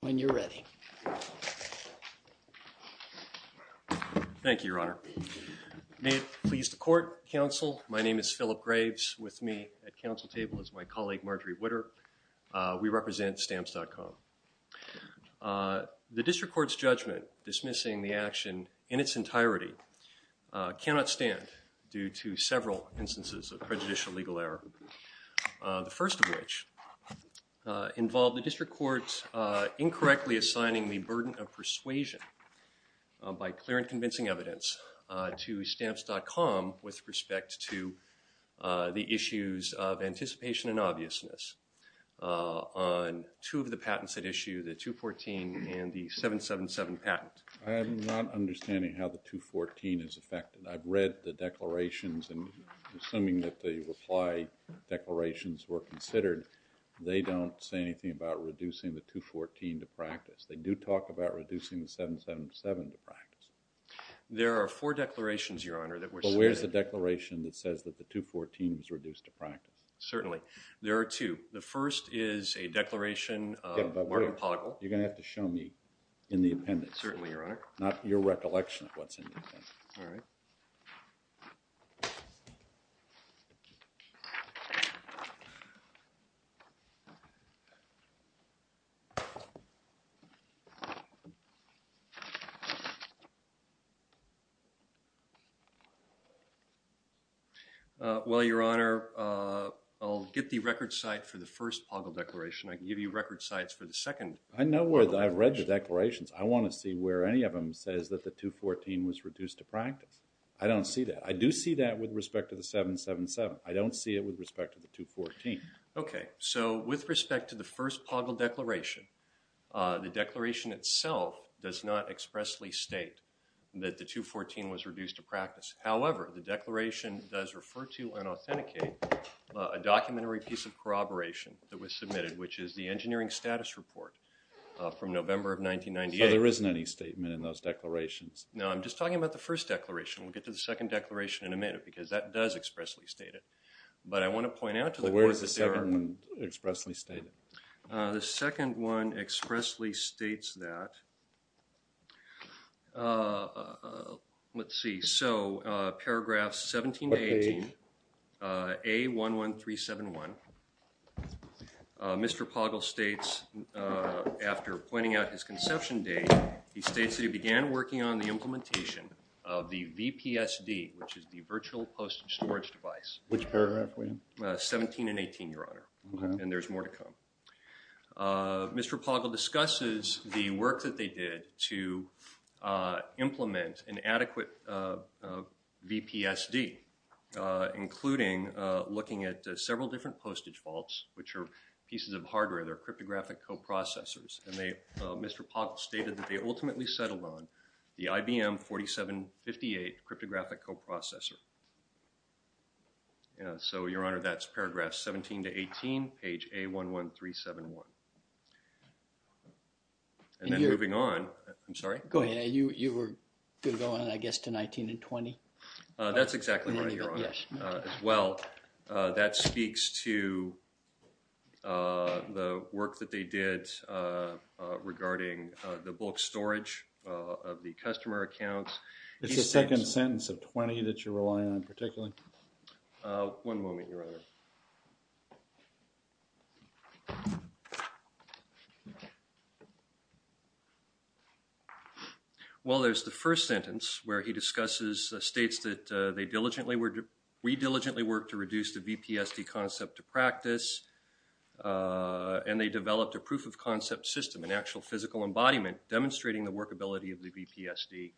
When you're ready. Thank you, Your Honor. May it please the court, counsel. My name is Philip Graves. With me at council table is my colleague Marjorie Witter. We represent STAMPS.COM. The District Court's judgment dismissing the action in its entirety cannot stand due to several instances of prejudicial legal error. The first of which involved the District Court incorrectly assigning the burden of persuasion by clear and convincing evidence to STAMPS.COM with respect to the issues of anticipation and obviousness on two of the patents at issue, the 214 and the 777 patent. I'm not understanding how the 214 is affected. I've read the declarations and assuming that the reply declarations were considered, they don't say anything about reducing the 214 to practice. They do talk about reducing the 777 to practice. There are four declarations, Your Honor, that were submitted. But where's the declaration that says that the 214 was reduced to practice? Certainly, there are two. The first is a declaration of Martin Poggle. You're going to have to show me in the appendix. Certainly, Your Honor. Not your recollection of what's in the appendix. All right. Well, Your Honor, I'll get the record site for the first Poggle declaration. I can give you record sites for the second. I know where, I've read the declarations. I want to see where any of them says that the 214 was reduced to practice. I don't see that. I do see that with respect to the 777. I don't see it with respect to the 214. Okay. So with respect to the first Poggle declaration, the declaration itself does not expressly state that the 214 was reduced to practice. However, the declaration does refer to and authenticate a documentary piece of corroboration that was submitted, which is the engineering status report from November of 1998. So there isn't any statement in those declarations? No, I'm just talking about the first declaration. We'll get to the second declaration in a minute because that does expressly state it. But I want to point out to the court that there are... So where is the second expressly stated? The second one expressly states that... Let's see. So paragraph 17 to 18, A11371, Mr. Poggle states after pointing out his conception date, he states that he began working on the implementation of the VPSD, which is the virtual postage storage device. Which paragraph, William? 17 and 18, Your Honor, and there's more to come. Mr. Poggle discusses the work that they did to implement an adequate VPSD, including looking at several different postage vaults, which are pieces of hardware. They're cryptographic coprocessors. And Mr. Poggle stated that they ultimately settled on the IBM 4758 cryptographic coprocessor. So, Your Honor, that's paragraph 17 to 18, page A11371. And then moving on... I'm sorry? Go ahead. You were going, I guess, to 19 and 20? That's exactly right, Your Honor. As well, that speaks to the work that they did regarding the bulk storage of the customer accounts. It's the second sentence of 20 that you're relying on particularly? One moment, Your Honor. Well, there's the first sentence, where he discusses, states that they diligently, we diligently worked to reduce the VPSD concept to practice. And they developed a proof-of-concept system, an actual physical embodiment, demonstrating the workability of the VPSD.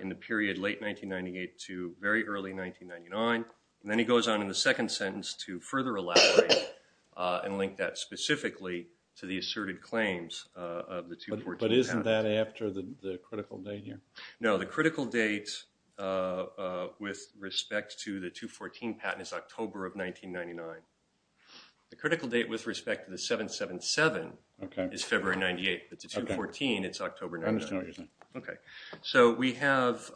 In the period late 1998 to very early 1999. And then he goes on in the second sentence to further elaborate and link that specifically to the asserted claims of the 214 patent. But isn't that after the critical date here? No, the critical date with respect to the 214 patent is October of 1999. The critical date with respect to the 777 is February 98. But the 214, it's October 99. I understand, Your Honor. Okay, so we have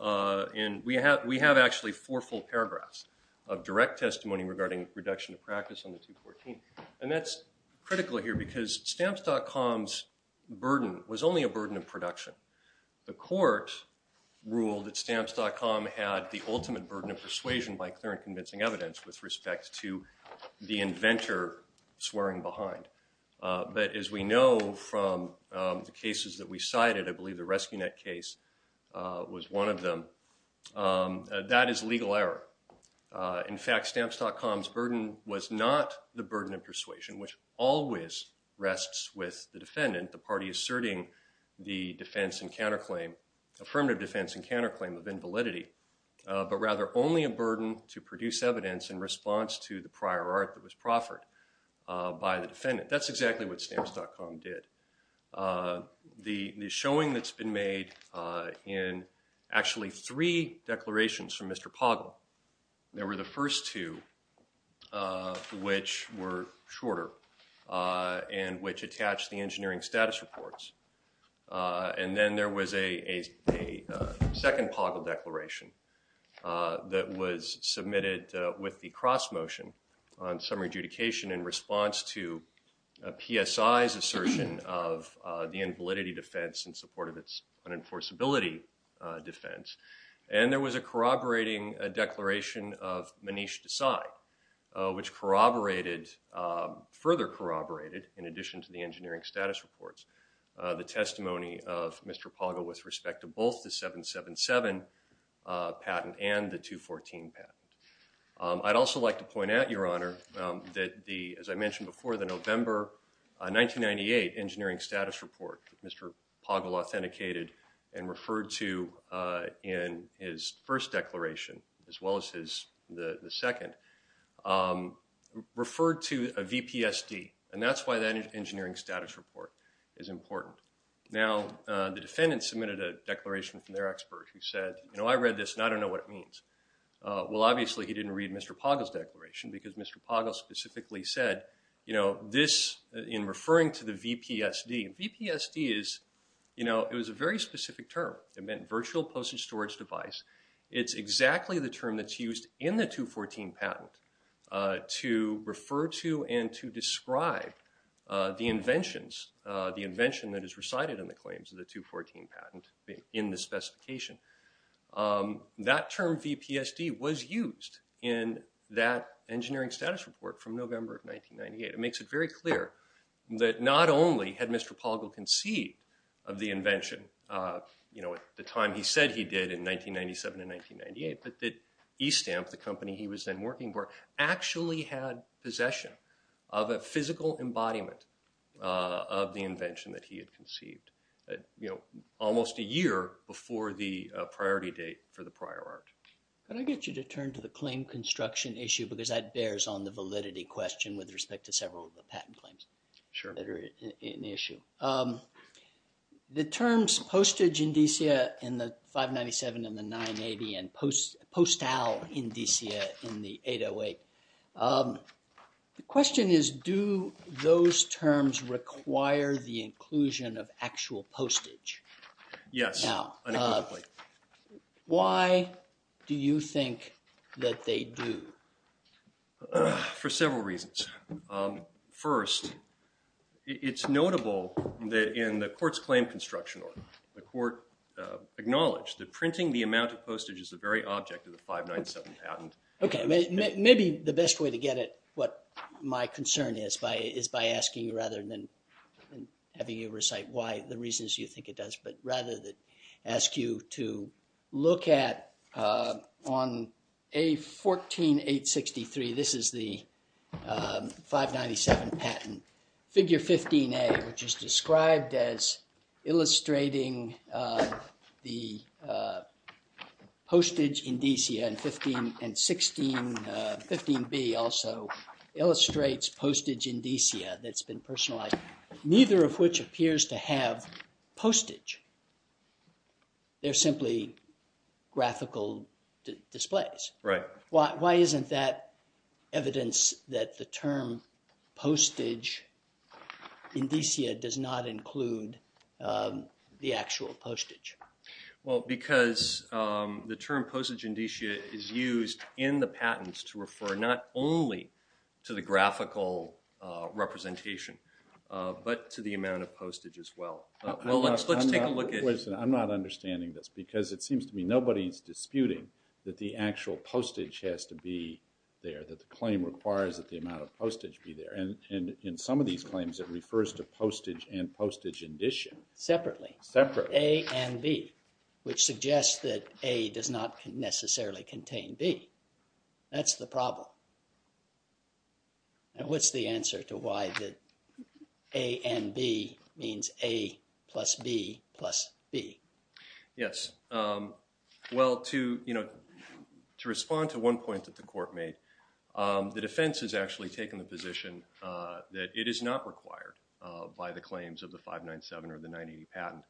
actually four full paragraphs of direct testimony regarding reduction of practice on the 214. And that's critical here because stamps.com's burden was only a burden of production. The court ruled that stamps.com had the ultimate burden of persuasion by clear and convincing evidence with respect to the inventor swearing behind. But as we know from the cases that we cited, I believe the Rescue Net case was one of them. That is legal error. In fact, stamps.com's burden was not the burden of persuasion, which always rests with the defendant, the party asserting the affirmative defense and counterclaim of invalidity, but rather only a burden to produce evidence in response to the prior art that was proffered by the defendant. That's exactly what stamps.com did. The showing that's been made in actually three declarations from Mr. Poggle. There were the first two, which were shorter and which attached the engineering status reports. And then there was a second Poggle declaration that was submitted with the cross motion on summary adjudication in response to PSI's assertion of the invalidity defense in support of its unenforceability defense. And there was a corroborating declaration of Manish Desai, which corroborated, further corroborated, in addition to the engineering status reports, the testimony of Mr. Poggle with respect to both the 777 patent and the 214 patent. I'd also like to point out, Your Honor, that the, as I mentioned before, the November 1998 engineering status report that Mr. Poggle authenticated and referred to in his first declaration, as well as his, the second, referred to a VPSD. And that's why that engineering status report is important. Now, the defendant submitted a declaration from their expert who said, you know, I read this and I don't know what it means. Well, obviously he didn't read Mr. Poggle's declaration because Mr. Poggle specifically said, you know, this, in referring to the VPSD. VPSD is, you know, it was a very specific term. It meant virtual postage storage device. It's exactly the term that's used in the 214 patent to refer to and to describe the inventions, the invention that is recited in the claims of the 214 patent in the specification. That term VPSD was used in that engineering status report from November of 1998. It makes it very clear that not only had Mr. Poggle conceived of the invention, you know, the time he said he did in 1997 and 1998, but that e-stamp, the company he was then working for, actually had possession of a physical embodiment of the invention that he had conceived, you know, almost a year before the priority date for the prior art. Can I get you to turn to the claim construction issue? Because that bears on the validity question with respect to several of the patent claims. Sure. That are an issue. The terms postage in DCA in the 597 and the 980 and postal in DCA in the 808. The question is, do those terms require the inclusion of actual postage? Yes, unequivocally. Why do you think that they do? For several reasons. First, it's notable that in the court's claim construction order, the court acknowledged that printing the amount of postage is the very object of the 597 patent. Okay, maybe the best way to get at what my concern is by is by asking rather than having you recite why the reasons you think it does, but rather than ask you to look at on A14863, this is the 597 patent, figure 15A, which is described as illustrating the postage in DCA and 15B also illustrates postage in DCA that's been personalized. Neither of which appears to have postage. They're simply graphical displays. Right. Why isn't that evidence that the term postage in DCA does not include the actual postage? Well, because the term postage in DCA is used in the patents to refer not only to the graphical representation, but to the amount of postage as well. Let's take a look at it. I'm not understanding this because it seems to me nobody's disputing that the actual postage has to be there, that the claim requires that the amount of postage be there. In some of these claims, it refers to postage and postage in DCA. Separately. Separately. A and B, which suggests that A does not necessarily contain B. That's the problem. Now, what's the answer to why that A and B means A plus B plus B? Yes. Well, to respond to one point that the court made, the defense has actually taken the position that it is not required by the claims of the 597 or the 980 patent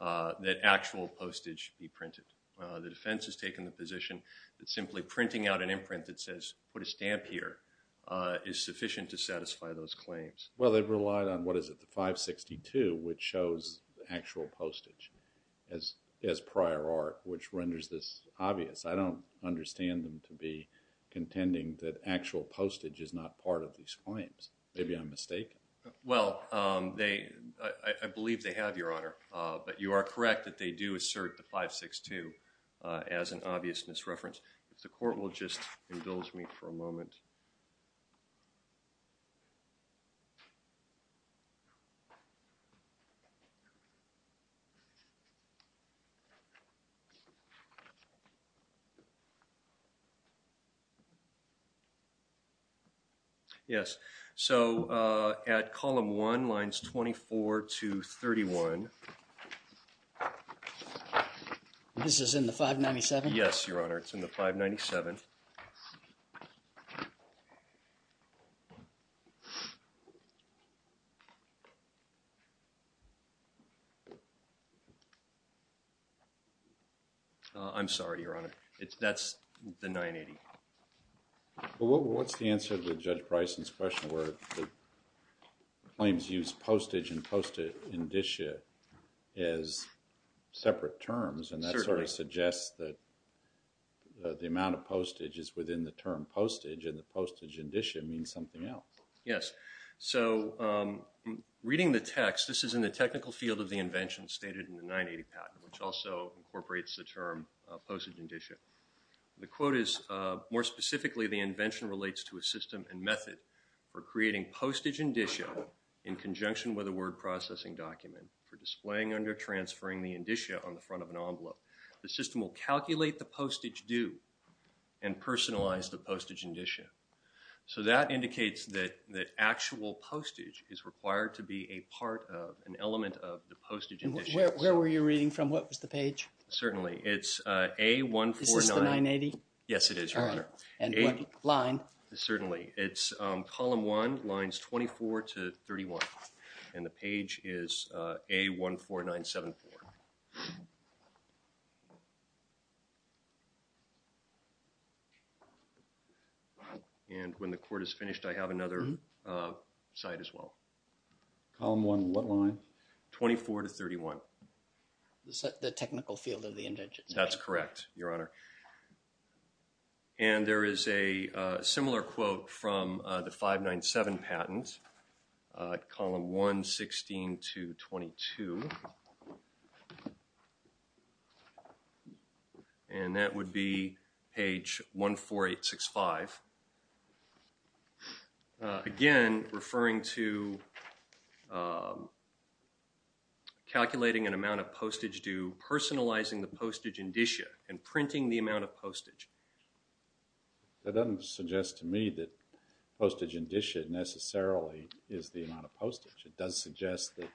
that actual postage be printed. The defense has taken the position that simply printing out an imprint that says put a stamp here is sufficient to satisfy those claims. Well, they've relied on, what is it, the 562, which shows actual postage as prior art, which renders this obvious. I don't understand them to be contending that actual postage is not part of these claims. Maybe I'm mistaken. Well, I believe they have, Your Honor, but you are correct that they do assert the 562 as an obvious misreference. If the court will just indulge me for a moment. Yes. So at column one, lines 24 to 31. This is in the 597? Yes, Your Honor. It's in the 597. I'm sorry, Your Honor. That's the 980. Well, what's the answer to Judge Preissen's question where the claims use postage and postage indicia as separate terms? And that sort of suggests that the amount of postage is within the term postage and the postage indicia means something else. Yes. So reading the text, this is in the technical field of the invention stated in the 980 patent, which also incorporates the term postage indicia. The quote is, more specifically, the invention relates to a system and method for creating postage indicia in conjunction with a word processing document for displaying under transferring the indicia on the front of an envelope. The system will calculate the postage due and personalize the postage indicia. So that indicates that actual postage is required to be a part of an element of the postage indicia. Where were you reading from? What was the page? Certainly. It's A149. Is this the 980? Yes, it is, Your Honor. And what line? Certainly. It's column one, lines 24 to 31. And the page is A14974. And when the court is finished, I have another site as well. Column one, what line? 24 to 31. The technical field of the invention. That's correct, Your Honor. And there is a similar quote from the 597 patent, column 116 to 22. And that would be page 14865. Again, referring to calculating an amount of postage due, personalizing the postage indicia, and printing the amount of postage. That doesn't suggest to me that postage indicia necessarily is the amount of postage. It does suggest that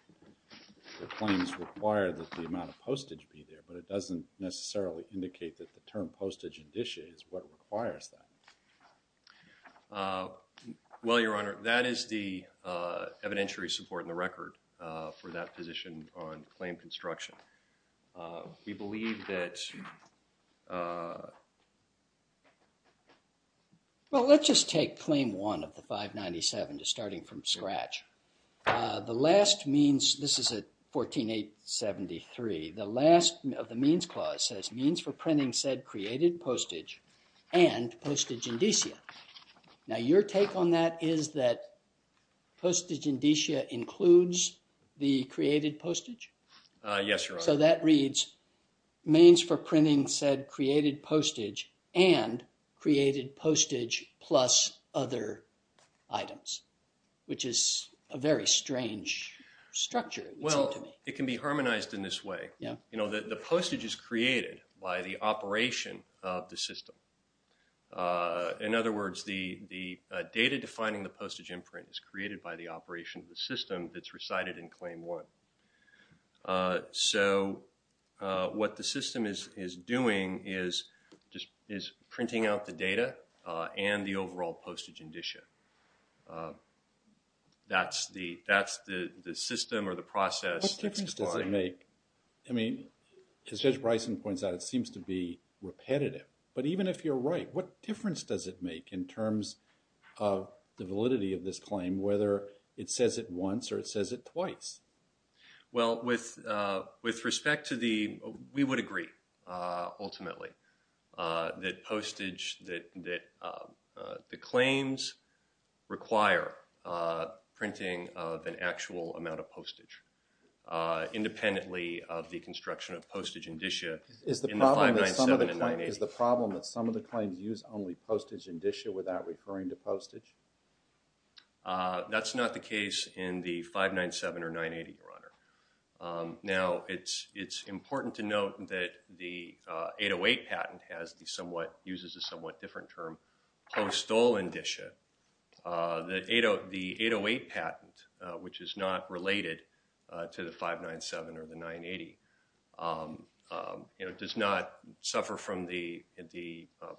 the claims require that the amount of postage be there, but it doesn't necessarily indicate that the term postage indicia is what requires that. Well, Your Honor, that is the evidentiary support in the record for that position on claim construction. We believe that... Well, let's just take claim one of the 597, just starting from scratch. The last means... This is at 14873. The last of the means clause says, means for printing said created postage and postage indicia. Now, your take on that is that postage indicia includes the created postage? Yes, Your Honor. So that reads, means for printing said created postage and created postage plus other items, which is a very strange structure, it seems to me. Well, it can be harmonized in this way. You know, the postage is created by the operation of the system. In other words, the data defining the postage imprint is created by the operation of the system that's recited in claim one. So what the system is doing is printing out the data and the overall postage indicia. That's the system or the process. What difference does it make? I mean, as Judge Bryson points out, it seems to be repetitive. But even if you're right, what difference does it make in terms of the validity of this claim, whether it says it once or it says it twice? Well, with respect to the, we would agree, ultimately, that postage, that the claims require printing of an actual amount of postage independently of the construction of postage indicia. Is the problem that some of the claims use only postage indicia without referring to postage? That's not the case in the 597 or 980, Your Honor. Now, it's important to note that the 808 patent uses a somewhat different term, post-stolen indicia. The 808 patent, which is not related to the 597 or the 980, does not suffer from the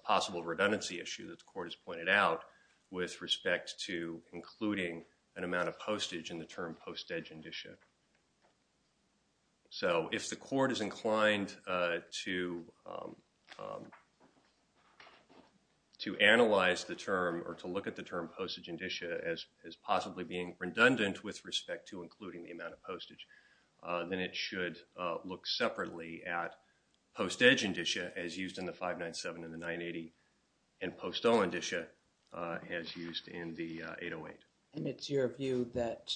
possible redundancy issue that the court has pointed out with respect to including an amount of postage in the term postage indicia. So if the court is inclined to analyze the term or to look at the term postage indicia as possibly being redundant with respect to including the amount of postage, then it should look separately at postage indicia as used in the 597 and the 980 and post-stolen indicia as used in the 808. And it's your view that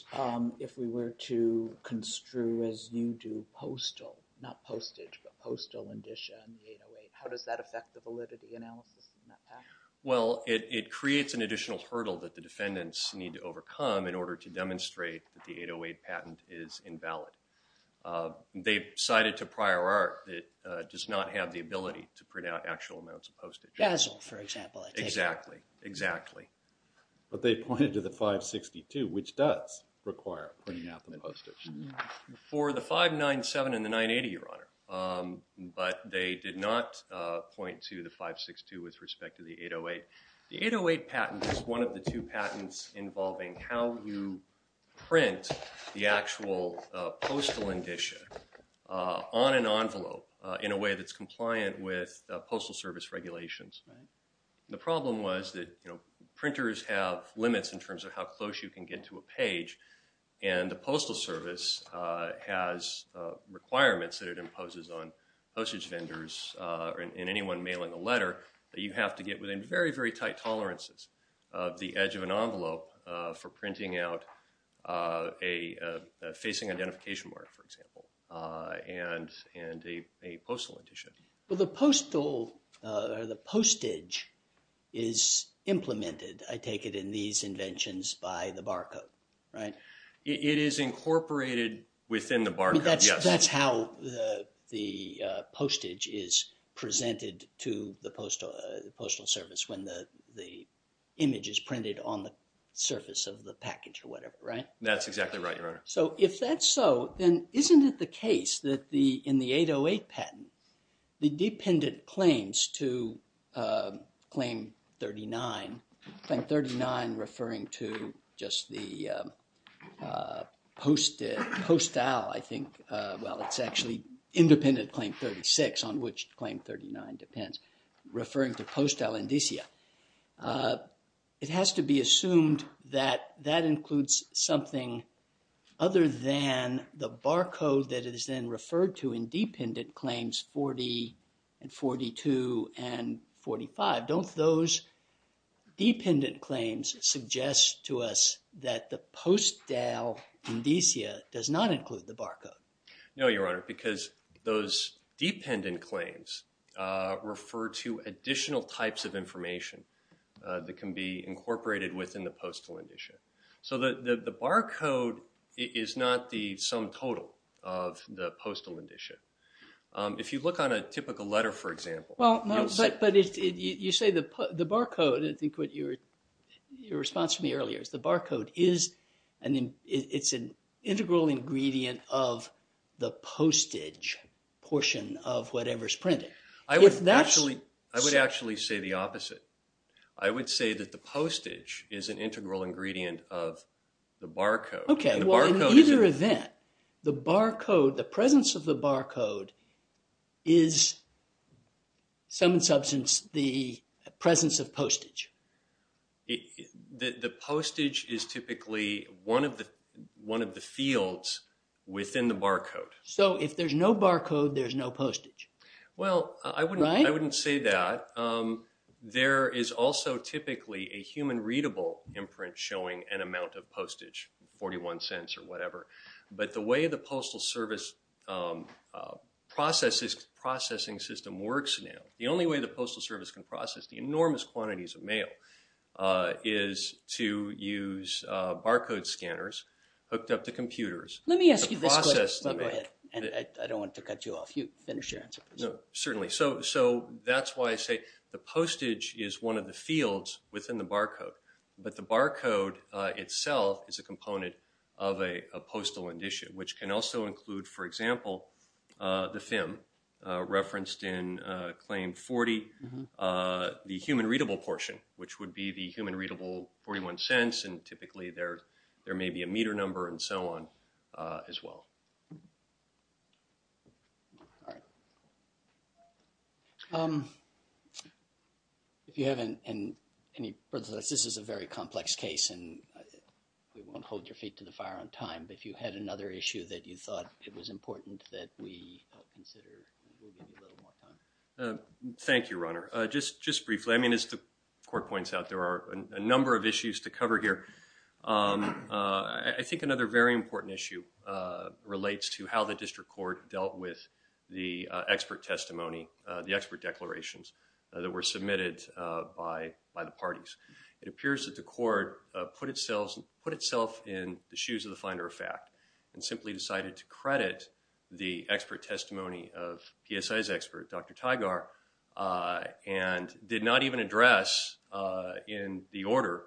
if we were to construe, as you do, postal, not postage, but postal indicia in the 808, how does that affect the validity analysis in that patent? Well, it creates an additional hurdle that the defendants need to overcome in order to demonstrate that the 808 patent is invalid. They've cited to prior art that it does not have the ability to print out actual amounts of postage. Basel, for example. Exactly, exactly. But they pointed to the 562, which does require printing out the postage. For the 597 and the 980, Your Honor, but they did not point to the 562 with respect to the 808. The 808 patent is one of the two patents involving how you print the actual postal indicia on an envelope in a way that's compliant with postal service regulations. The problem was that printers have limits in terms of how close you can get to a page, and the postal service has requirements that it imposes on postage vendors and anyone mailing a letter that you have to get within very, very tight tolerances of the edge of an envelope for printing out a facing identification mark, for example, and a postal indicia. Well, the postal or the postage is implemented, I take it, in these inventions by the barcode, right? It is incorporated within the barcode, yes. So that's how the postage is presented to the postal service, when the image is printed on the surface of the package or whatever, right? That's exactly right, Your Honor. So if that's so, then isn't it the case that in the 808 patent, the dependent claims to Claim 39, Claim 39 referring to just the postal, I think, well, it's actually independent Claim 36 on which Claim 39 depends, referring to postal indicia. It has to be assumed that that includes something other than the barcode that is then referred to in dependent Claims 40 and 42 and 45. Don't those dependent claims suggest to us that the postal indicia does not include the barcode? No, Your Honor, because those dependent claims refer to additional types of information that can be incorporated within the postal indicia. So the barcode is not the sum total of the postal indicia. If you look on a typical letter, for example. Well, but you say the barcode, I think what your response to me earlier, is the barcode is an integral ingredient of the postage portion of whatever's printed. I would actually say the opposite. I would say that the postage is an integral ingredient of the barcode. Okay, well, in either event, the barcode, the presence of the barcode is, sum and substance, the presence of postage. The postage is typically one of the fields within the barcode. So if there's no barcode, there's no postage. Well, I wouldn't say that. But there is also typically a human-readable imprint showing an amount of postage, 41 cents or whatever. But the way the Postal Service processing system works now, the only way the Postal Service can process the enormous quantities of mail is to use barcode scanners hooked up to computers. Let me ask you this question. Go ahead. I don't want to cut you off. Finish your answer, please. Certainly. So that's why I say the postage is one of the fields within the barcode. But the barcode itself is a component of a postal indicia, which can also include, for example, the FIM referenced in Claim 40, the human-readable portion, which would be the human-readable 41 cents, and typically there may be a meter number and so on as well. All right. If you have any further thoughts, this is a very complex case and we won't hold your feet to the fire on time, but if you had another issue that you thought it was important that we consider, we'll give you a little more time. Thank you, Ronner. Just briefly, I mean, as the Court points out, there are a number of issues to cover here. I think another very important issue relates to how the District Court dealt with the expert testimony, the expert declarations, that were submitted by the parties. It appears that the Court put itself in the shoes of the finder of fact and simply decided to credit the expert testimony of PSI's expert, Dr. Tygar, and did not even address, in the order,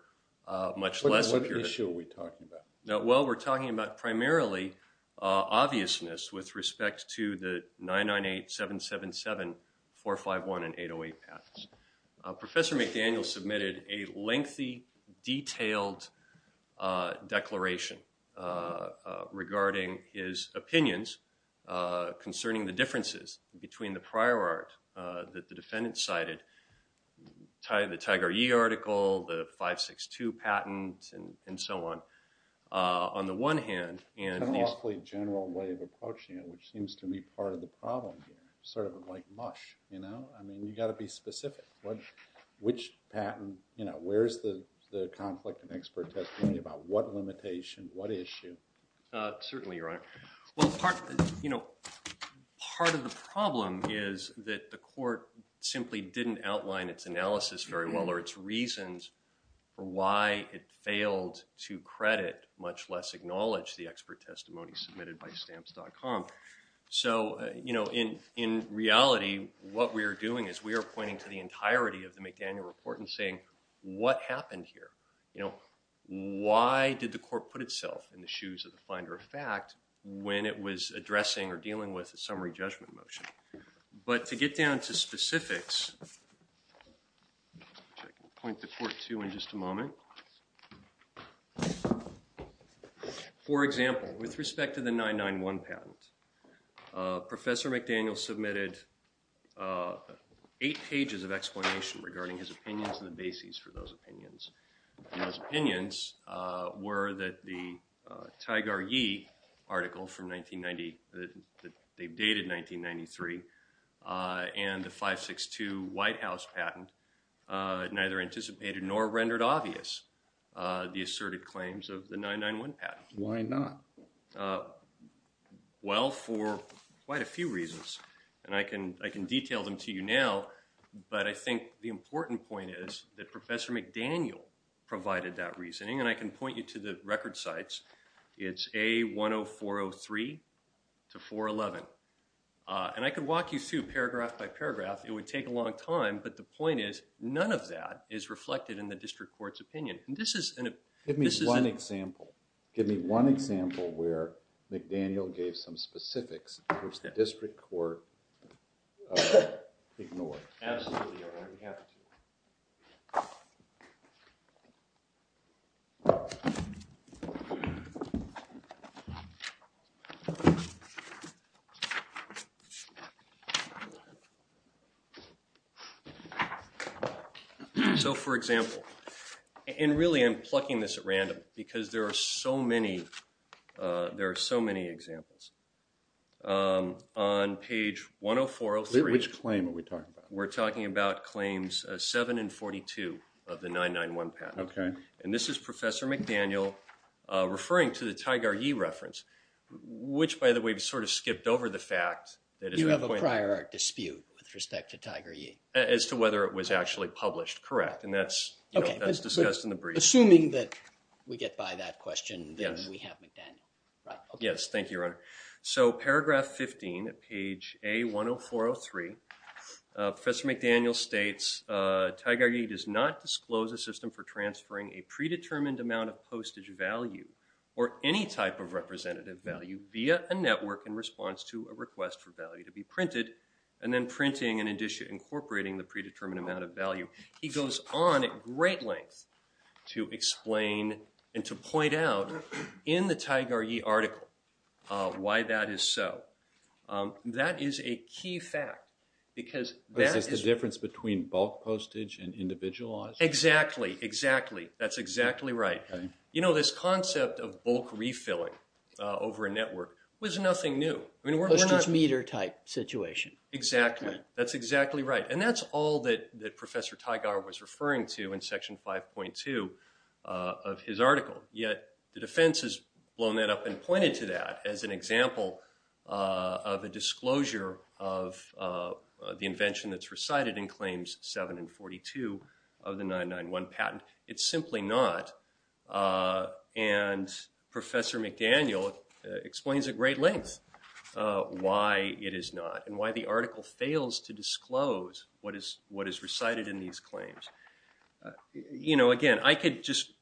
much less... What issue are we talking about? Well, we're talking about primarily obviousness with respect to the 998, 777, 451, and 808 patents. Professor McDaniel submitted a lengthy, detailed declaration regarding his that the defendant cited. The Tygar Yee article, the 562 patent, and so on. On the one hand... It's an awfully general way of approaching it, which seems to be part of the problem here. Sort of like mush, you know? I mean, you've got to be specific. Which patent, you know, where's the conflict in expert testimony about what limitation, what issue? Certainly, Your Honor. Well, part of the problem is that the Court simply didn't outline its analysis very well or its reasons for why it failed to credit, much less acknowledge the expert testimony submitted by stamps.com. So, you know, in reality, what we are doing is we are pointing to the entirety of the McDaniel report and saying, what happened here? You know, why did the Court put itself in the shoes of the finder of fact when it was addressing or dealing with a summary judgment motion? But to get down to specifics... Which I can point the Court to in just a moment. For example, with respect to the 991 patent, Professor McDaniel submitted eight pages of explanation regarding his opinions and the basis for those opinions. And those opinions were that the Tigar Yee article from 1990, that they dated 1993, and the 562 White House patent neither anticipated nor rendered obvious the asserted claims of the 991 patent. Why not? Well, for quite a few reasons. And I can detail them to you now, but I think the important point is that Professor McDaniel provided that reasoning. And I can point you to the record sites. It's A10403 to 411. And I can walk you through paragraph by paragraph. It would take a long time, but the point is none of that is reflected in the District Court's opinion. And this is... Give me one example. Give me one example where McDaniel gave some specifics which the District Court ignored. Absolutely, Your Honor. We have two. So, for example... And really, I'm plucking this at random because there are so many... There are so many examples. On page 10403... Which claim are we talking about? We're talking about claims 7 and 42 of the 991 patent. Okay. And this is Professor McDaniel referring to the Tigar Yee reference, which, by the way, we've sort of skipped over the fact... You have a prior art dispute with respect to Tigar Yee. As to whether it was actually published, correct. And that's discussed in the brief. Assuming that we get by that question, then we have McDaniel. Yes, thank you, Your Honor. So, paragraph 15, page A-10403, Professor McDaniel states, Tigar Yee does not disclose a system for transferring a predetermined amount of postage value or any type of representative value via a network in response to a request for value to be printed and then printing and incorporating the predetermined amount of value. He goes on at great length to explain and to point out, in the Tigar Yee article, why that is so. That is a key fact because... Is this the difference between bulk postage and individualized? Exactly, exactly. That's exactly right. You know, this concept of bulk refilling over a network was nothing new. Postage meter type situation. Exactly. That's exactly right. And that's all that Professor Tigar was referring to in Section 5.2 of his article. Yet, the defense has blown that up and pointed to that as an example of a disclosure of the invention that's recited in Claims 7 and 42 of the 991 patent. It's simply not. And Professor McDaniel explains at great length why it is not and why the article fails to disclose what is recited in these claims. You know, again, I could just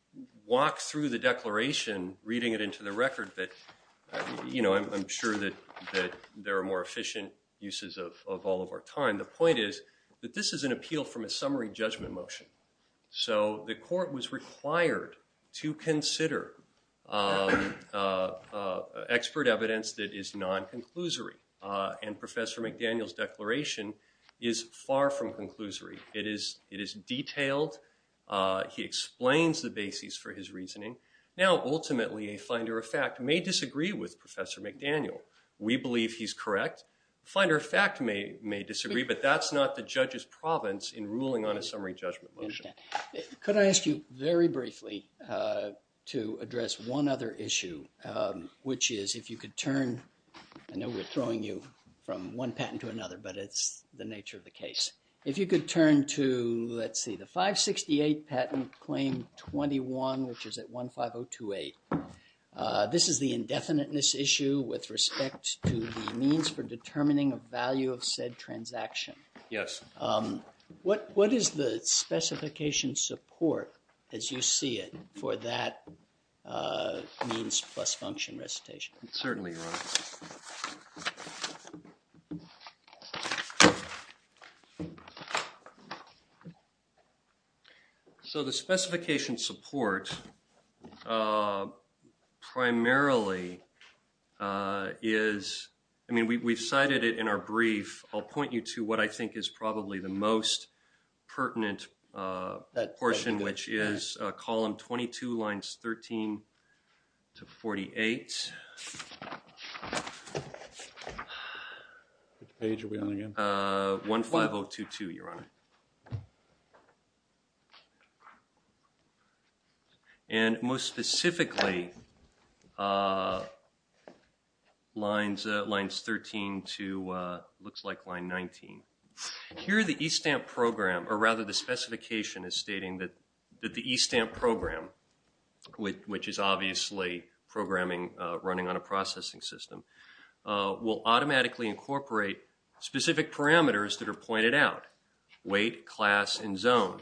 walk through the declaration reading it into the record, but I'm sure that there are more efficient uses of all of our time. The point is that this is an appeal from a summary judgment motion. So the court was required to consider expert evidence that is non-conclusory. And Professor McDaniel's declaration is far from conclusory. It is detailed. He explains the bases for his reasoning. Now, ultimately, a finder of fact may disagree with Professor McDaniel. We believe he's correct. Finder of fact may disagree, but that's not the judge's province in ruling on a summary judgment motion. Could I ask you, very briefly, to address one other issue, which is if you could turn... I know we're throwing you from one patent to another, but it's the nature of the case. If you could turn to, let's see, the 568 patent claim 21, which is at 15028. This is the indefiniteness issue with respect to the means for determining a value of said transaction. Yes. What is the specification support, as you see it, for that means plus function recitation? Certainly, Your Honor. So, the specification support, primarily, is... I mean, we've cited it in our brief. I'll point you to what I think is probably the most pertinent portion, which is column 22, lines 13 to 48. Which page are we on here? 15022, Your Honor. And, most specifically, lines 13 to... looks like line 19. Here, the e-stamp program, or rather, the specification is stating that the e-stamp program, which is obviously programming running on a processing system, will automatically incorporate specific parameters that are pointed out, weight, class, and zone,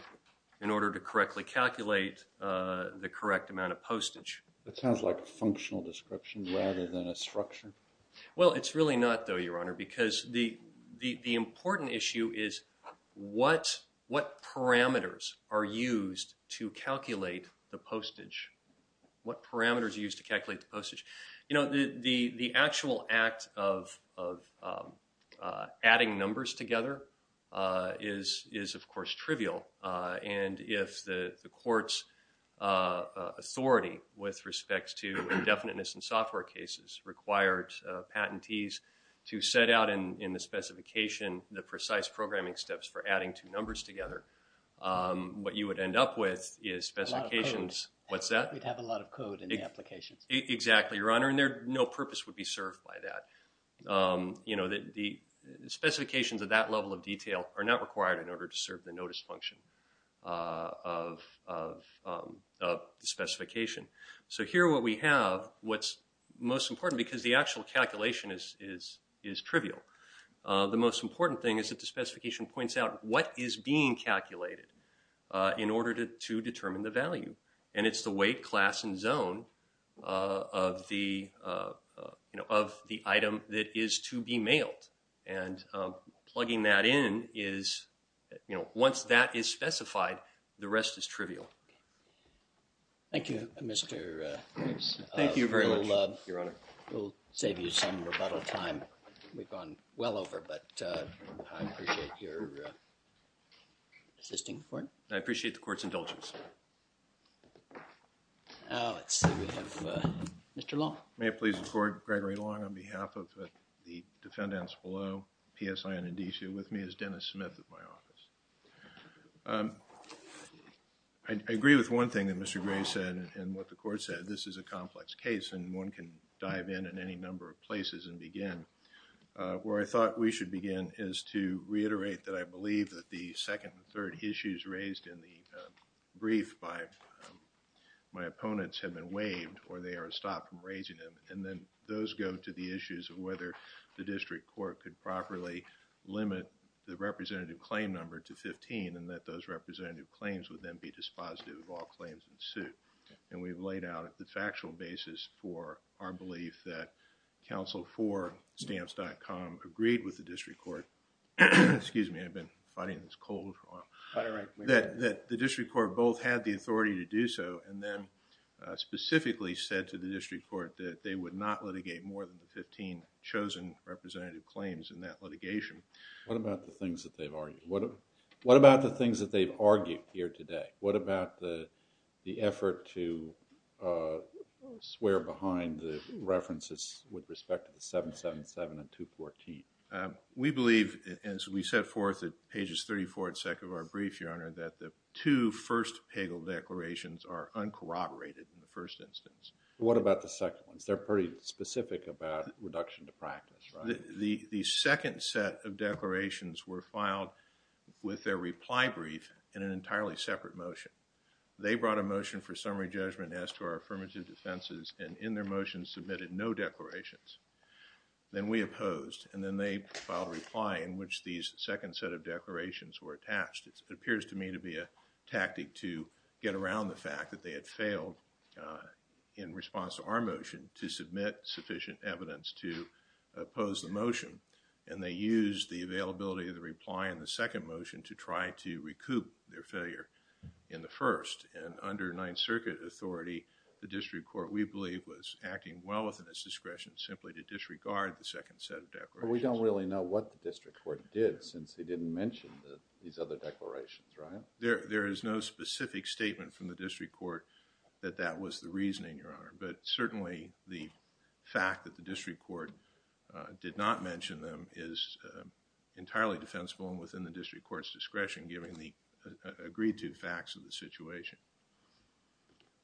in order to correctly calculate the correct amount of postage. That sounds like a functional description rather than a structure. Well, it's really not, though, Your Honor, because the important issue is what parameters are used to calculate the postage. What parameters are used to calculate the postage? You know, the actual act of adding numbers together is, of course, trivial. And if the court's authority with respect to indefiniteness in software cases required patentees to set out in the specification the precise programming steps for adding two numbers together, what you would end up with is specifications... A lot of code. What's that? We'd have a lot of code in the applications. Exactly, Your Honor, and no purpose would be served by that. You know, the specifications of that level of detail are not required in order to serve the notice function of the specification. So here what we have, what's most important, because the actual calculation is trivial, the most important thing is that the specification points out what is being calculated in order to determine the value. And it's the weight, class, and zone of the item that is to be mailed. And plugging that in is... You know, once that is specified, the rest is trivial. Thank you, Mr.... Thank you very much, Your Honor. We'll save you some rebuttal time we've gone well over, but I appreciate your assisting the court. I appreciate the court's indulgence. Let's see, we have Mr. Long. May it please the court, Gregory Long, on behalf of the defendants below, PSI and Indicia, with me is Dennis Smith of my office. I agree with one thing that Mr. Gray said and what the court said, this is a complex case and one can dive in in any number of places and begin. Where I thought we should begin is to reiterate that I believe that the second and third issues raised in the brief by my opponents have been waived or they are stopped from raising them. And then, those go to the issues of whether the district court could properly limit the representative claim number to fifteen and that those representative claims would then be dispositive of all claims in suit. And we've laid out the factual basis for our belief that counsel for stamps.com agreed with the district court. Excuse me, I've been fighting this cold. That the district court both had the authority to do so and then specifically said to the district court that they would not litigate more than the fifteen chosen representative claims in that litigation. What about the things that they've argued? What about the things that they've argued here today? What about the effort to swear behind the references with respect to the 777 and 214? We believe as we set forth at pages 34 and 2 of our brief, Your Honor, that the two first Pagel declarations are uncorroborated in the first instance. What about the second ones? They are pretty specific about reduction to practice, right? The second set of declarations were filed with their reply brief in an entirely separate motion. They brought a motion for summary judgment as to our affirmative defenses and in their motion submitted no declarations. Then we opposed and then they filed a reply in which these second set of declarations were attached. It appears to me to be a tactic to get around the fact that they had failed in response to our motion to submit sufficient evidence to oppose the motion and they used the availability of the reply in the second motion to try to recoup their failure in the first and under Ninth Circuit authority, the district court we believe was acting well within its discretion simply to disregard the second set of declarations. Your Honor, we don't really know what the district court did since they didn't mention these other declarations, right? There is no specific statement from the district court that that was the reasoning, Your Honor, but certainly the fact that the district court did not mention them is entirely defensible and within the district court's discretion given the agreed to facts of the situation.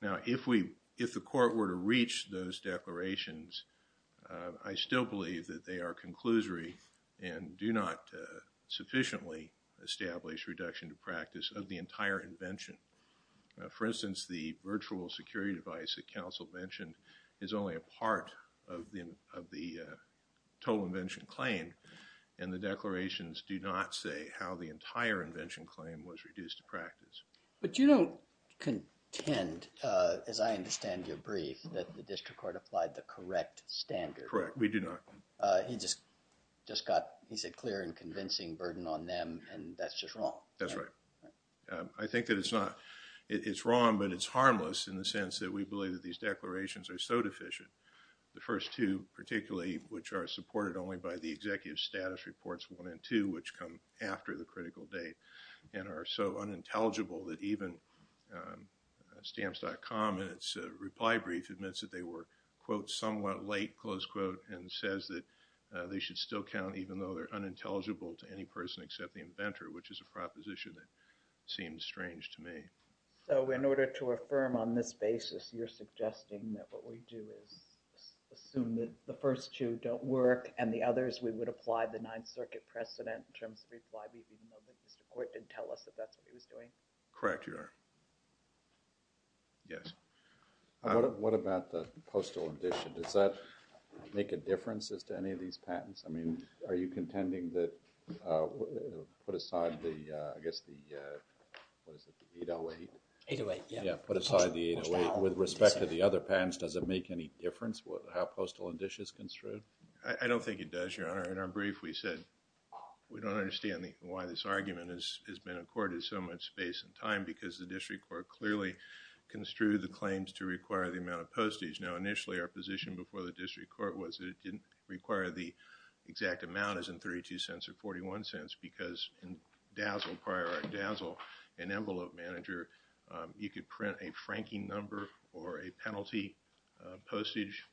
Now, if we, if the court were to reach those declarations, I still believe that they are conclusory and do not sufficiently establish reduction to practice of the entire invention. For instance, the virtual security device that counsel mentioned is only a part of the total invention claim and the declarations do not say how the entire invention claim was reduced to practice. But you don't contend as I understand your brief that the district court has not applied the correct standard. Correct, we do not. He just got, he said clear and convincing burden on them and that's just wrong. That's right. I think that it's not, it's wrong but it's harmless in the sense that we believe that these declarations are so deficient. The first two particularly which are supported only by the executive status reports one and two which come after the critical date and are so unintelligible that even stamps.com in its reply brief admits that they were quote somewhat late close quote and says that they should still count even though they're unintelligible to any person except the inventor which is a proposition that seems strange to me. So in order to affirm on this basis you're suggesting that what we do is assume that the first two don't work and the others we would apply the ninth circuit precedent in terms of reply brief even though the district court didn't tell us that that's what he was doing. Correct, you are. Yes. What about the postal addition? Does that make a difference as to any of these patents? I mean are you contending that put aside the I guess the what is it, the 808? 808, yeah. Put aside the 808 with respect to the other patents does it make any difference how postal addition is construed? I don't think it does, Your Honor. In our brief we said we don't understand why this argument has been accorded so much space and time because the district court clearly construed the claims to require the amount of postage. Now initially our position before the district court was that it didn't require the exact amount as in 32 cents or 41 cents because in Dazzle prior at Dazzle an envelope manager you could print a franking number or a penalty postage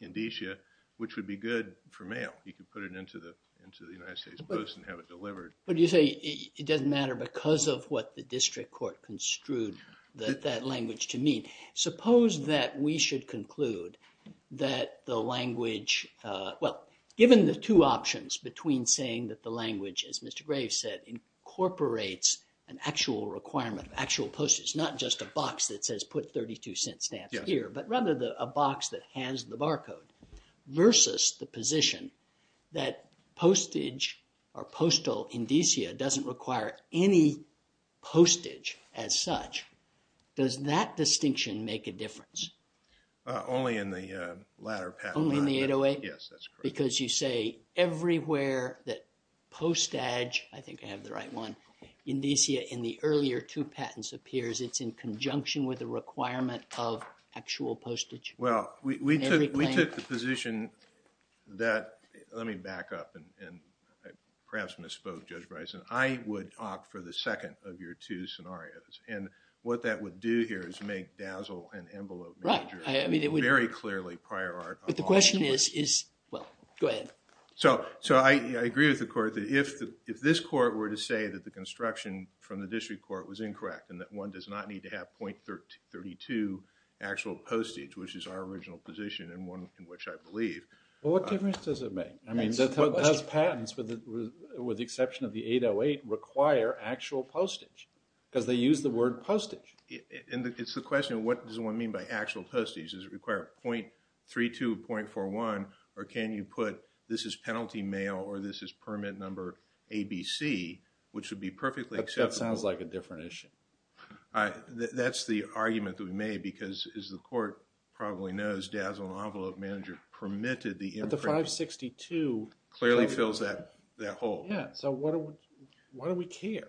indicia which would be good for mail. You could put it into the United States Post and have it delivered. But you say it doesn't matter because of what the district court construed that language to mean. Suppose that we should conclude that the language well given the two options between saying that the language as Mr. Graves said incorporates an actual requirement of actual postage not just a box that says put 32 cents stamp here but rather a box that has the barcode versus the position that postage or postal indicia doesn't require any postage as such does that distinction make a difference? Only in the latter patent. Only in the 808? Yes, that's correct. Because you say everywhere that postage I think I have the right one indicia in the earlier two patents appears it's in conjunction with the requirement of actual postage. Well, we took the position that let me back up and perhaps misspoke Judge Bryson I would opt for the second of your two scenarios and what that would do here is make dazzle and envelope very clearly prior art but the question is is well, go ahead. So, I agree with the court if this court were to say that the construction from the district court was incorrect and that one does not need to have .32 actual postage which is our original position and one in which I believe. Well, what difference does it make? I mean, does patents with the exception of the 808 require actual postage? Because they use the word postage. It's the question what does one mean by actual postage? Does it require .32 .41 or can you put this is penalty mail or this is permit number ABC which would be perfectly acceptable. That sounds like a different issue. That's the argument that we made because as the court probably knows dazzle and envelope manager permitted the imprint But the 562 clearly fills that that hole. Yeah. So why do we care?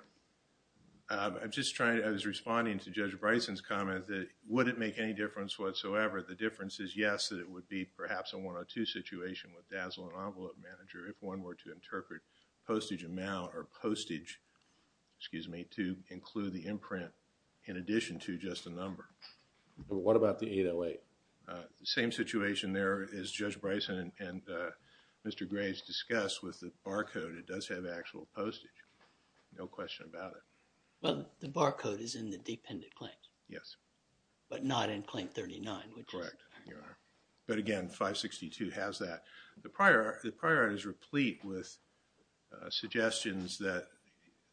I'm just trying I was responding to Judge Bryson's comment that would it make any difference whatsoever? The difference is yes that it would be perhaps a 102 situation with dazzle and envelope manager if one were to interpret postage amount or postage excuse me to include the imprint in addition to just a number. What about the 808? The same situation there as Judge Bryson and Mr. Gray has discussed with the barcode it does have actual postage. No question about it. Well the barcode is in the dependent claims. Yes. But not in claim 39. Correct. But again 562 has that. The prior the prior is replete with suggestions that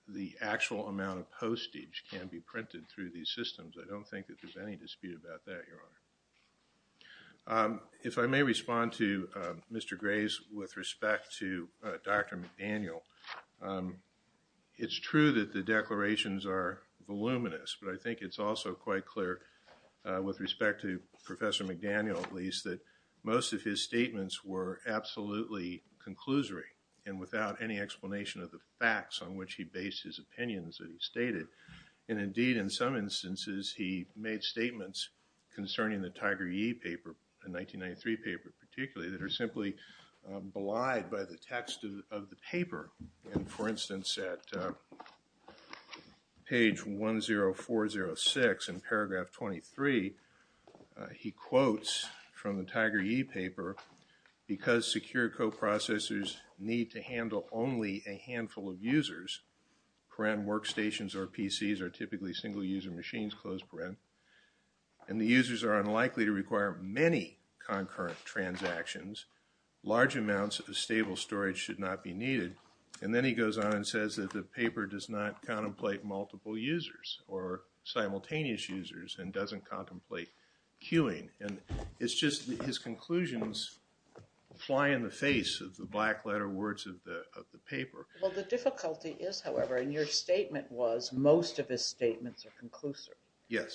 the actual amount of postage can be printed through these systems. I don't think that there's any dispute about that your honor. If I may respond to Mr. Gray's with respect to Dr. McDaniel it's true that the declarations are voluminous but I think it's also quite clear with respect to Professor McDaniel at least that most of his statements were absolutely conclusory and without any explanation of the facts on which he based his opinions that he stated and indeed in some instances he made statements concerning the Tiger E paper the 1993 paper particularly that are simply belied by the text of the paper and for instance at page 10406 in paragraph 23 he quotes from the Tiger E paper because secure coprocessors need to handle only a handful of users workstations or PCs are typically single user machines closed and the users are unlikely to require many concurrent transactions large amounts of stable storage should not be needed and then he goes on and says that the paper does not contemplate multiple users or simultaneous users and doesn't contemplate queuing and it's just his that most of the statements are conclusory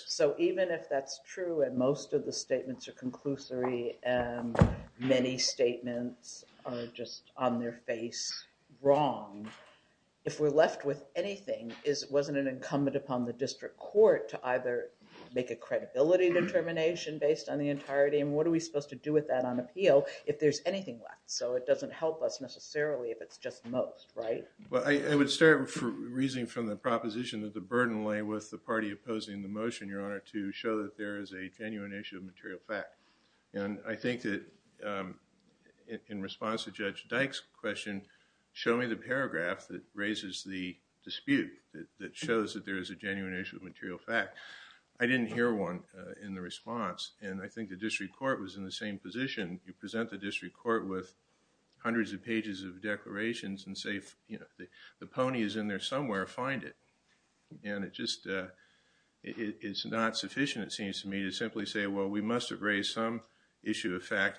so even if that's true and most of the statements are conclusory and many statements are just on their face wrong if we're left with anything wasn't it incumbent upon the district court to either make a credibility determination based on the entirety and what are we supposed to do with that on appeal if there's anything left so it doesn't help us necessarily if it's just most right. I would start reasoning from the proposition that the burden of the issue of material fact is not sufficient to simply say we must have raised some issue of fact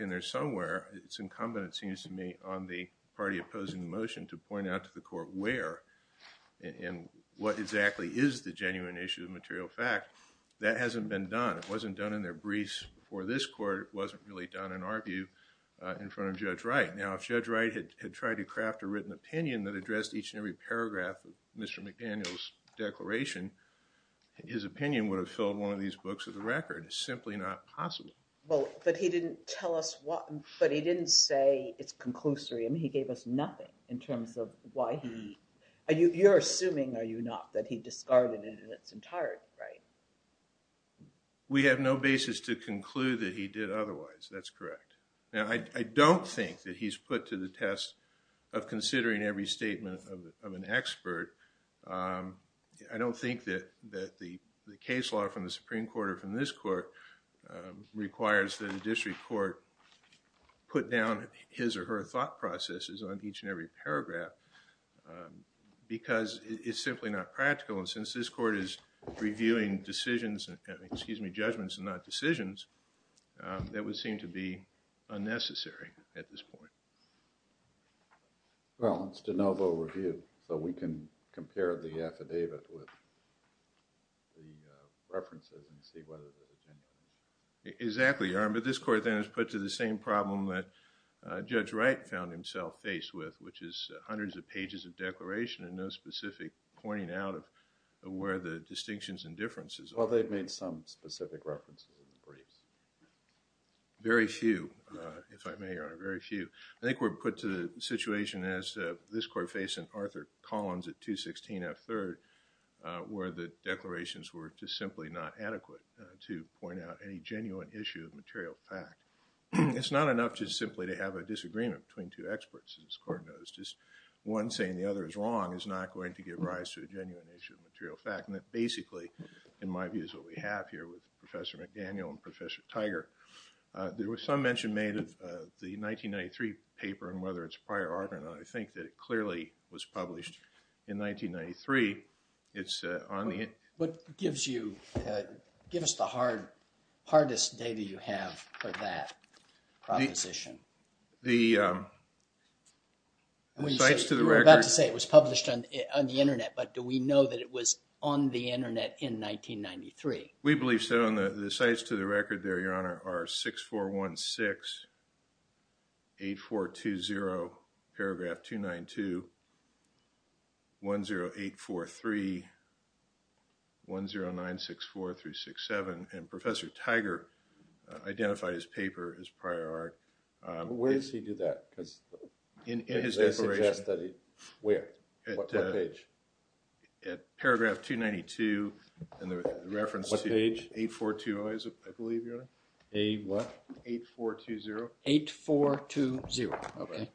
in there somewhere. It's incumbent on the party opposing the motion to point out to the court where and what exactly is the genuine issue of material fact that hasn't been done. It wasn't done in their briefs before this court. It wasn't really done in our view in front of Judge Wright. Now, if Judge Wright had tried to craft a written opinion that addressed each and every paragraph of Mr. McDaniel's declaration, his opinion would have filled one of these books of the record. It's simply not possible. But he didn't say it's conclusory. He gave us nothing in terms of why he... You're assuming, are you not, that he gave us nothing? So, I don't think that the case law from the Supreme Court or from this court requires that the district court put down his or her thought processes on each and every paragraph because it's simply not practical. And since this court is reviewing decisions, excuse me, judgments and decisions, um, that would seem to be unnecessary at this point. Well, it's de novo review, so we can compare the affidavit with the references and see whether they're genuine. Exactly, Your Honor, but this court then has put to the same problem that Judge Wright found himself faced with, which is the fact that the Supreme Court does not have a genuine issue of material fact. It's not enough just simply to have a disagreement between two experts, as this court knows, just one saying the other is wrong is not going to give rise to a genuine issue of material fact, and that basically, in my view, is what we have here with Professor McDaniel and Professor Tiger. There was some mention made of the 1993 paper and whether it's prior art or not. I think that it clearly was published in 1993. It's on the... What gives you... Give us the hardest data you have for that proposition. The... You were about to say it was published on the Internet, but do we know that it was on the Internet in 1993? We believe so, and the sites to the record there, Your Honor, are 6416, 8420, paragraph 292, 10843, 1099, 964, 367, and Professor Tiger identified his paper as prior art. Where does he do that? declaration. Where? What page? At paragraph 292, and the reference to... What page? 8420, I believe, Your Honor. A what? 8420. 8420. Okay. Okay.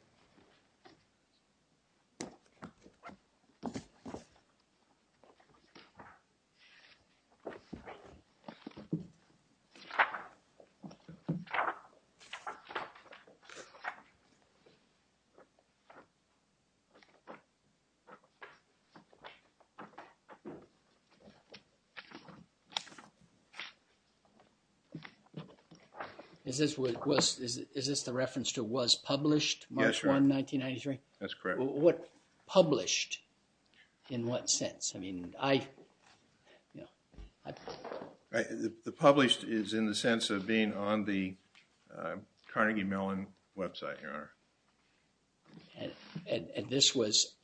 Is this the reference to was published March 1, 1993? That's correct. What published? In what sense? I mean, I The published is in the sense of being on the Carnegie Mellon website, Your Honor. And this was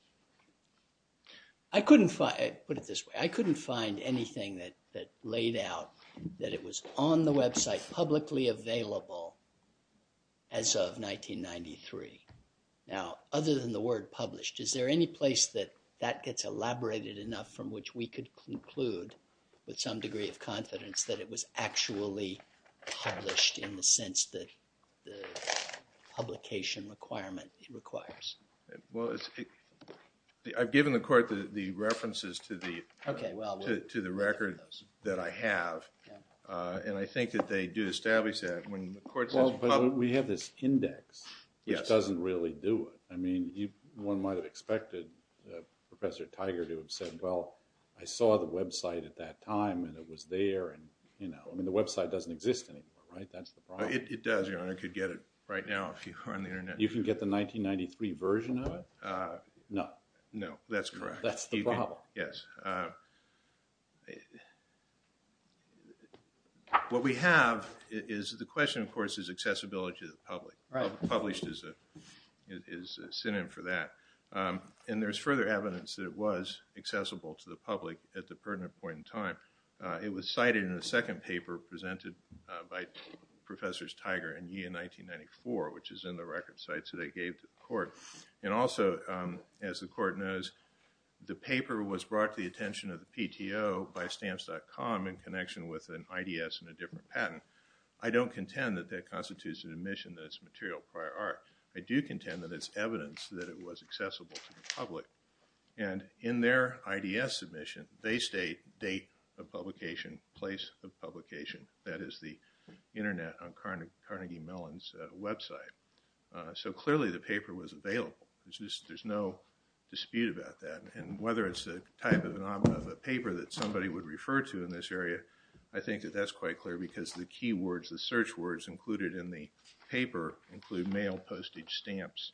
I couldn't find Put it this way. I couldn't find anything that that laid out that it was on the website publicly available as of 1993. Now, other than the word published, is there any place that that gets elaborated enough from which we could conclude with some degree of confidence that it was actually published in the sense that the publication requirement requires? Well, it's I've given the court the references to the Okay, well to the record that I have. And I think that they do establish that when the court says Well, but we have this index which doesn't really do it. I mean, you one might have expected Professor Tiger to have said, well, I saw the website at that time and it was there and you know, I mean, the website doesn't exist anymore, right? That's the problem. It does, Your Honor. I could get it right now if you are on the internet. You can get the 1993 version of it? No. No, that's correct. That's the problem. Yes. What we have is the question, of course, is accessibility to the public. Published is a synonym for that. And there's further evidence that it was accessible to the public at the pertinent point in time. It was cited in the second paper presented by Professors Tiger and Yee in 1994, which is in the record sites that they gave to the court. And also, as the court knows, the paper was brought to the attention of the PTO by stamps.com in connection with an IDS and a different patent. I don't contend that that constitutes an admission that it's material prior art. I do contend that it's evidence that it was accessible to the public. And in their IDS submission, they state date of publication, place of publication. That is the internet on Carnegie Mellon's website. So clearly, the paper was available. There's no dispute about that. And whether it's the type of paper that somebody would refer to in this area, I think that that's quite clear because the keywords, the search words included in the paper include mail postage stamps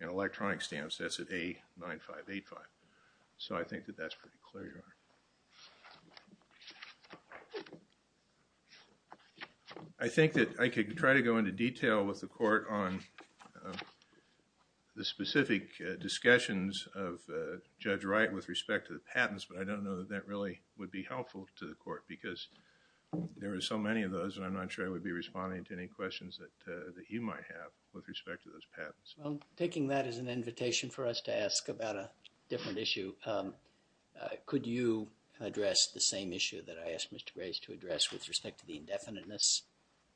and electronic stamps. That's at A9585. So I think that that's pretty clear. I think that I could try to go into detail with the court on the specific discussions with respect to the patents, but I don't know that that really would be helpful to the court because there are so many of those and I'm not sure I would be responding to any questions that you might have with respect to those patents. Well, taking that as an invitation for us to ask about a different issue, could you address the same issue that I asked Mr. Grace to address with respect to the indefiniteness,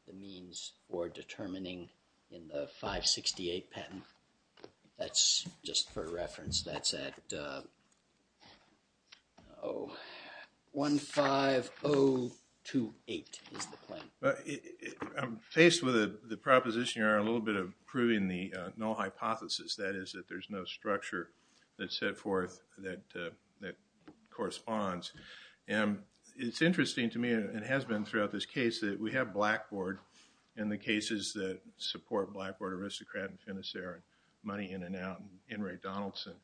the means for determining in the 568 patent? That's just for reference. That's at 15028 is the claim. I'm faced with the proposition here a little bit of proving the null hypothesis, that is that there's no structure that's set forth that corresponds. And it's interesting to me, and it has been throughout this case, that we have Blackboard and the cases that support Blackboard, Aristocrat and Finiserra, Money In and Out, and Ray Donaldson.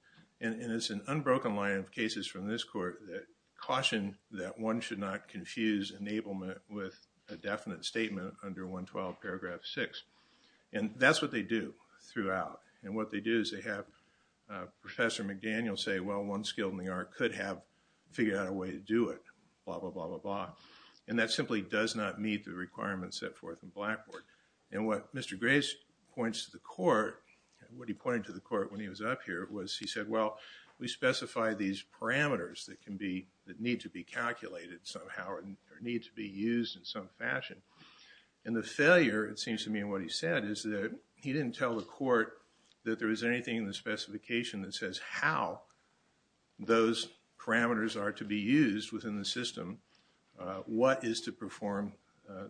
And it's an unbroken line of cases from this court that caution that one should not confuse enablement with a definite statement under 112 paragraph six. And that's what they do throughout. And what they do is they have Professor McDaniel say, well, one skill in the art could have figured out a way to do it, blah, blah, blah, blah, blah. And that simply does not meet the requirements set forth in Blackboard. And what Mr. Grace points to the court, what he pointed to the court when he was up here was he said, well, we specify these parameters that need to be calculated somehow or need to be used in some fashion. And the failure, it seems to me, in what he said is that he didn't tell the court that there was anything in the specification that says how those parameters are to be used within the system, what is to perform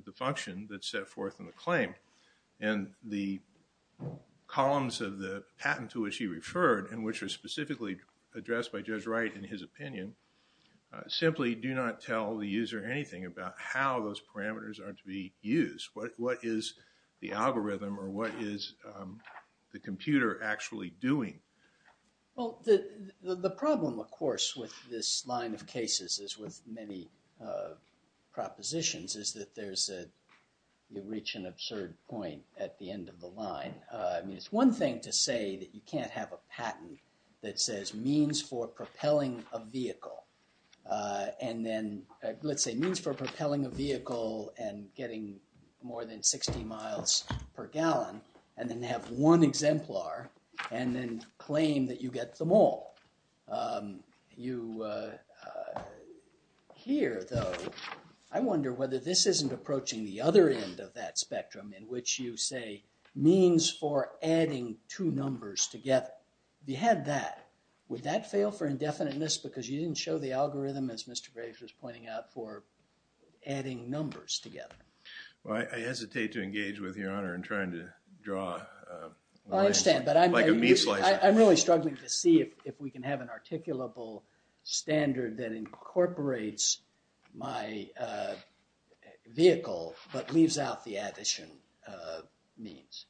the function that's set forth in the claim. And the columns of the patent to which he referred and which are specifically addressed by Judge Wright in his opinion simply do not tell the user anything about how those parameters are to be used. What is the algorithm or what is the computer actually doing? Well, the problem, of course, with this line of cases is with many propositions is that you reach an absurd point at the end of the line. I mean, it's one thing to say that you can't have a patent that says means for propelling a vehicle and then, let's say, means for propelling a vehicle and getting more than 60 miles per gallon and then have one exemplar and then claim that you get them all. You, here though, I wonder whether this isn't approaching the other end of that spectrum in which you say means for adding two numbers together. If you had that, would that fail for indefiniteness because you didn't show the algorithm as Mr. Graves was pointing out for adding numbers together? Well, I hesitate to engage with Your Honor in trying to draw... I understand, but I'm... Like a meat slicer. I'm really struggling to see if we can have an articulable standard that incorporates my vehicle but leaves out the addition means.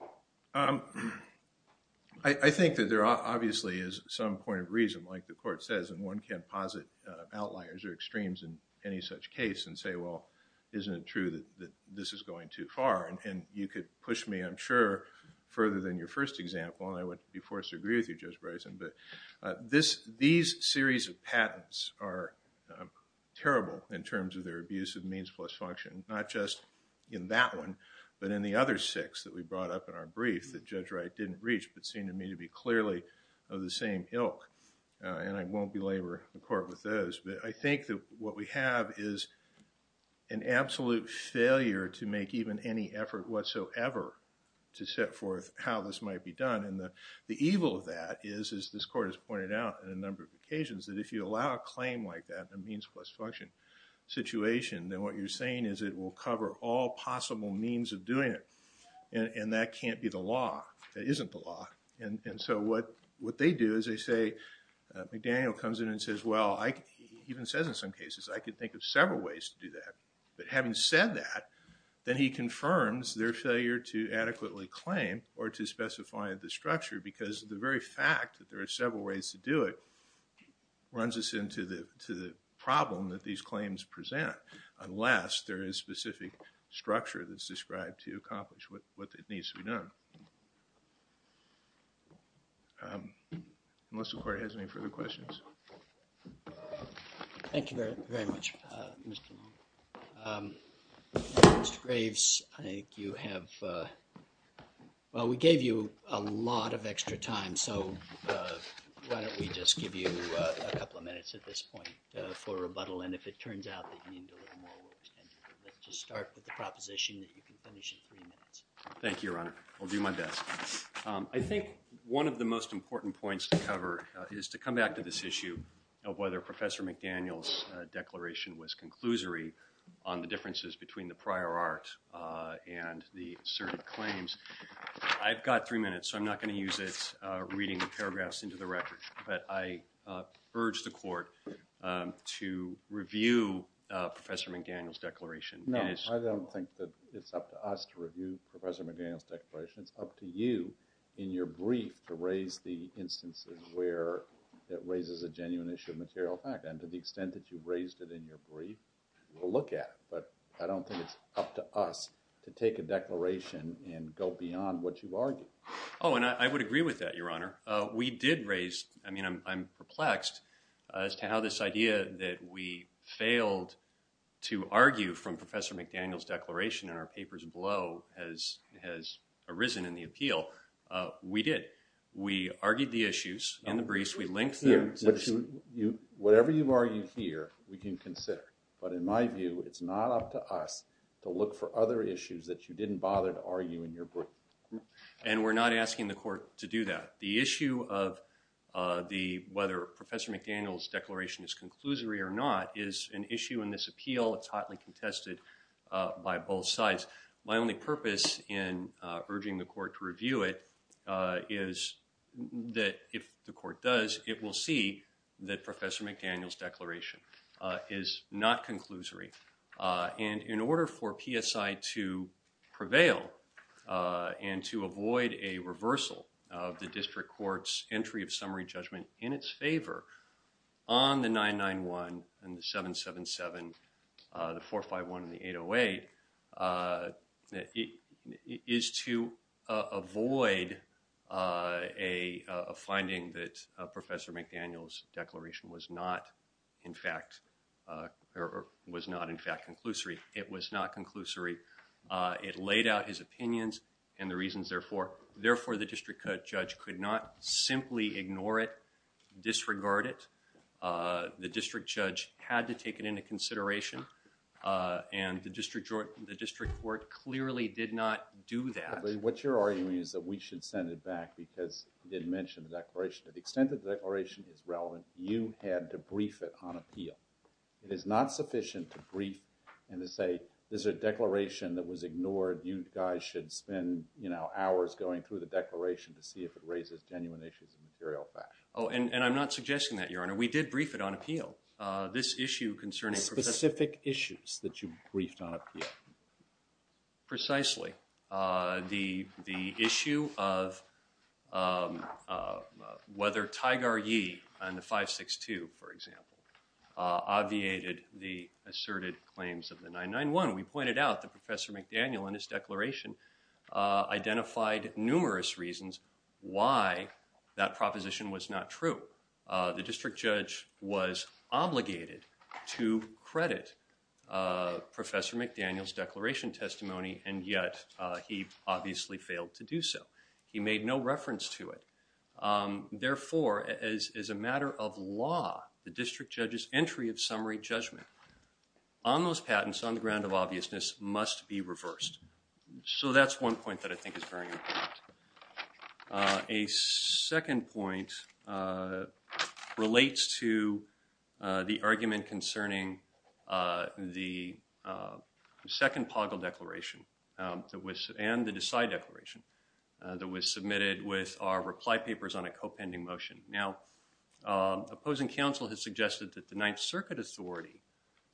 I think that there obviously is some point of reason, like the court says, and one can't posit outliers or extremes in any such case and say, well, isn't it true that this is going too far? And you could push me, I'm sure, further than your first example and I wouldn't be forced to agree with you, Judge Bryson, but these series of patents are terrible in terms of their abuse of means plus function, not just in that one, but in the other six that we brought up in our brief that Judge Wright didn't reach but seemed to me to be clearly of the same ilk and I won't belabor the court with those, but I think that what we have is an absolute failure to make even any effort whatsoever to set forth how this might be done and the evil of that is, as this court has pointed out on a number of occasions, that if you allow a claim like that in a means plus function situation, then what you're saying is it will cover all possible means of doing it and that can't be the law. It isn't the law and so what they do is they say, McDaniel comes in and says, well, he even says in some cases, I could think of several ways to do that, but having said that, then he confirms their failure to adequately claim or to specify the structure because the very fact that there are several ways to do it runs us into the problem that these claims present unless there is specific structure that's described to accomplish what needs to be done. Unless the court has any further questions. Thank you very much, Mr. Long. Mr. Graves, I think you have, well, we gave you a lot of extra time, so why don't we just give you a couple of minutes at this point for rebuttal, and if it turns out that you need a little more, we'll extend it. Let's just start with the proposition that you can finish in three minutes. Thank you, Your Honor. I'll do my best. I think one of the most important points to cover is to come back to this issue of whether Professor McDaniel's declaration was conclusory on the differences between the prior art and the asserted claims. I've got three minutes, so I'm not going to use it reading the paragraphs into the record, but I urge the court to review Professor McDaniel's declaration. No, I don't think that it's up to us to review Professor McDaniel's declaration. It's up to you, in your brief, to raise the instances where it raises a genuine issue of material fact, and to the extent that you've raised it in your brief, we'll look at it, but I don't think it's up to us to take a declaration and go beyond what you've argued. Oh, and I would agree with that, Your Honor. We did raise, I mean, I'm perplexed, as to how this idea that we failed to argue from Professor McDaniel's declaration in our papers below has arisen in the appeal. We did. We argued the issues in the briefs. We linked them. Whatever you've argued here, we can consider, but in my view, it's not up to us to look for other issues that you didn't bother to argue in your brief. And we're not asking the court to do that. The issue of whether Professor McDaniel's declaration is conclusory or not is an issue in this appeal. It's hotly contested by both sides. My only purpose in urging the court to review it is that if the court does, it will see that Professor McDaniel's declaration is not conclusory. And in order for PSI to prevail and to avoid a reversal of the district court's entry of summary judgment in its favor on the 991 and the 777, the 451 and the 808, it is to avoid a finding that Professor McDaniel's declaration was not in fact conclusory. It was not conclusory. It laid out his opinions and the reasons therefore. Therefore, the district judge could not simply ignore it, disregard it. The district judge had to take it into consideration and the district court clearly did not do that. What you're arguing is that we should send it back because you didn't mention the declaration. To the extent that the declaration is relevant, you had to brief it on appeal. It is not sufficient to brief and to say, this is a declaration that was ignored. You guys should spend, you know, hours going through the declaration to see if it raises genuine issues of material fact. Oh, and I'm not suggesting that, Your Honor. We did brief it on appeal. This issue concerning... Specific issues that you briefed on appeal. Precisely. The issue of whether Tigar Yee and the 562, for example, obviated the asserted claims of the 991. We pointed out that Professor McDaniel in his declaration identified numerous reasons why that proposition was not true. The district judge was obligated to credit Professor McDaniel's declaration testimony and yet he obviously failed to do so. He made no reference to it. Therefore, as a matter of law, the district judge's entry of summary judgment on those patents on the ground of obviousness must be reversed. So that's one point that I think is very important. A second point relates to the argument concerning the second Poggle declaration and the Decide declaration that was submitted with our reply papers on a co-pending motion. Now, opposing counsel has suggested that the Ninth Circuit authority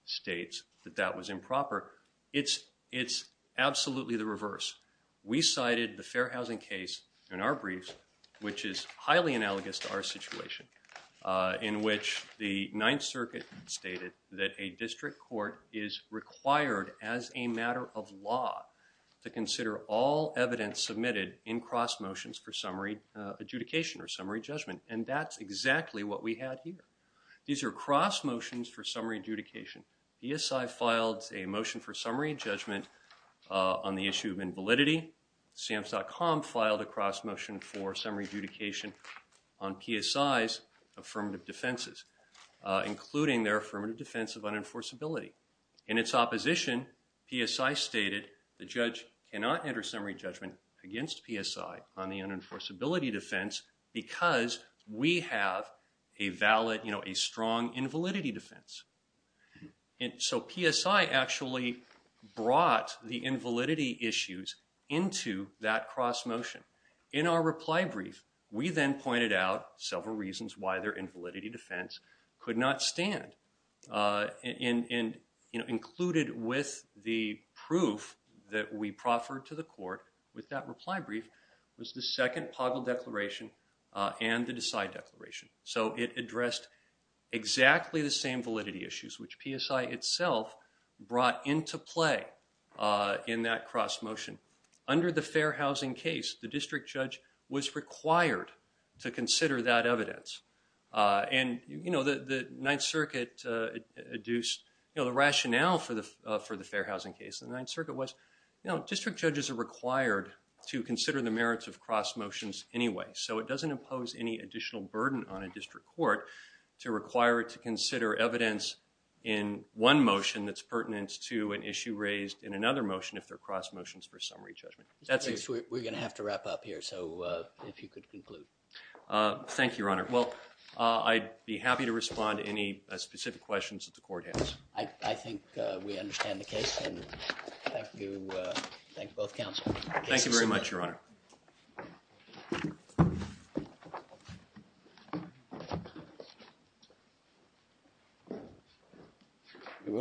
states that that was improper. It's absolutely the reverse. We cited the Fair Housing case in our briefs, which is highly analogous to our situation, in which the Ninth Circuit stated that a district court is required as a matter of law to consider all evidence submitted in cross motions for summary adjudication or summary judgment and that's exactly what we had here. These are cross motions for summary adjudication. PSI filed a motion for summary judgment on the issue of invalidity. SAMHSA.com filed a cross motion for summary adjudication on PSI's affirmative defenses, including their affirmative defense of unenforceability. In its opposition, PSI stated the judge cannot enter summary judgment against PSI on the unenforceability defense because we have a strong invalidity defense. So PSI actually brought the invalidity issues into that cross motion. In our reply brief, we then pointed out several reasons why their invalidity defense could not stand and included with the proof that we proffered to the court with that reply brief was the second Poggle Declaration and the Decide Declaration. So it addressed exactly the same validity issues which PSI itself brought into play in that cross motion. Under the fair housing case, the district judge was required to consider that evidence and the Ninth Circuit induced the rationale for the fair housing case. The Ninth Circuit was, district judges are required to consider the merits of cross motions anyway so it doesn't impose any additional burden on a district court to require it to consider evidence in one motion that's pertinent to an issue raised in another motion if they're cross motions for summary judgment. We're going to have to wrap up here so if you could conclude. Thank you, Your Honor. Well, I'd be happy to respond to any specific questions that the court has. I think we understand the case and thank you both counsel. Thank you very much, Your Honor. Thank you.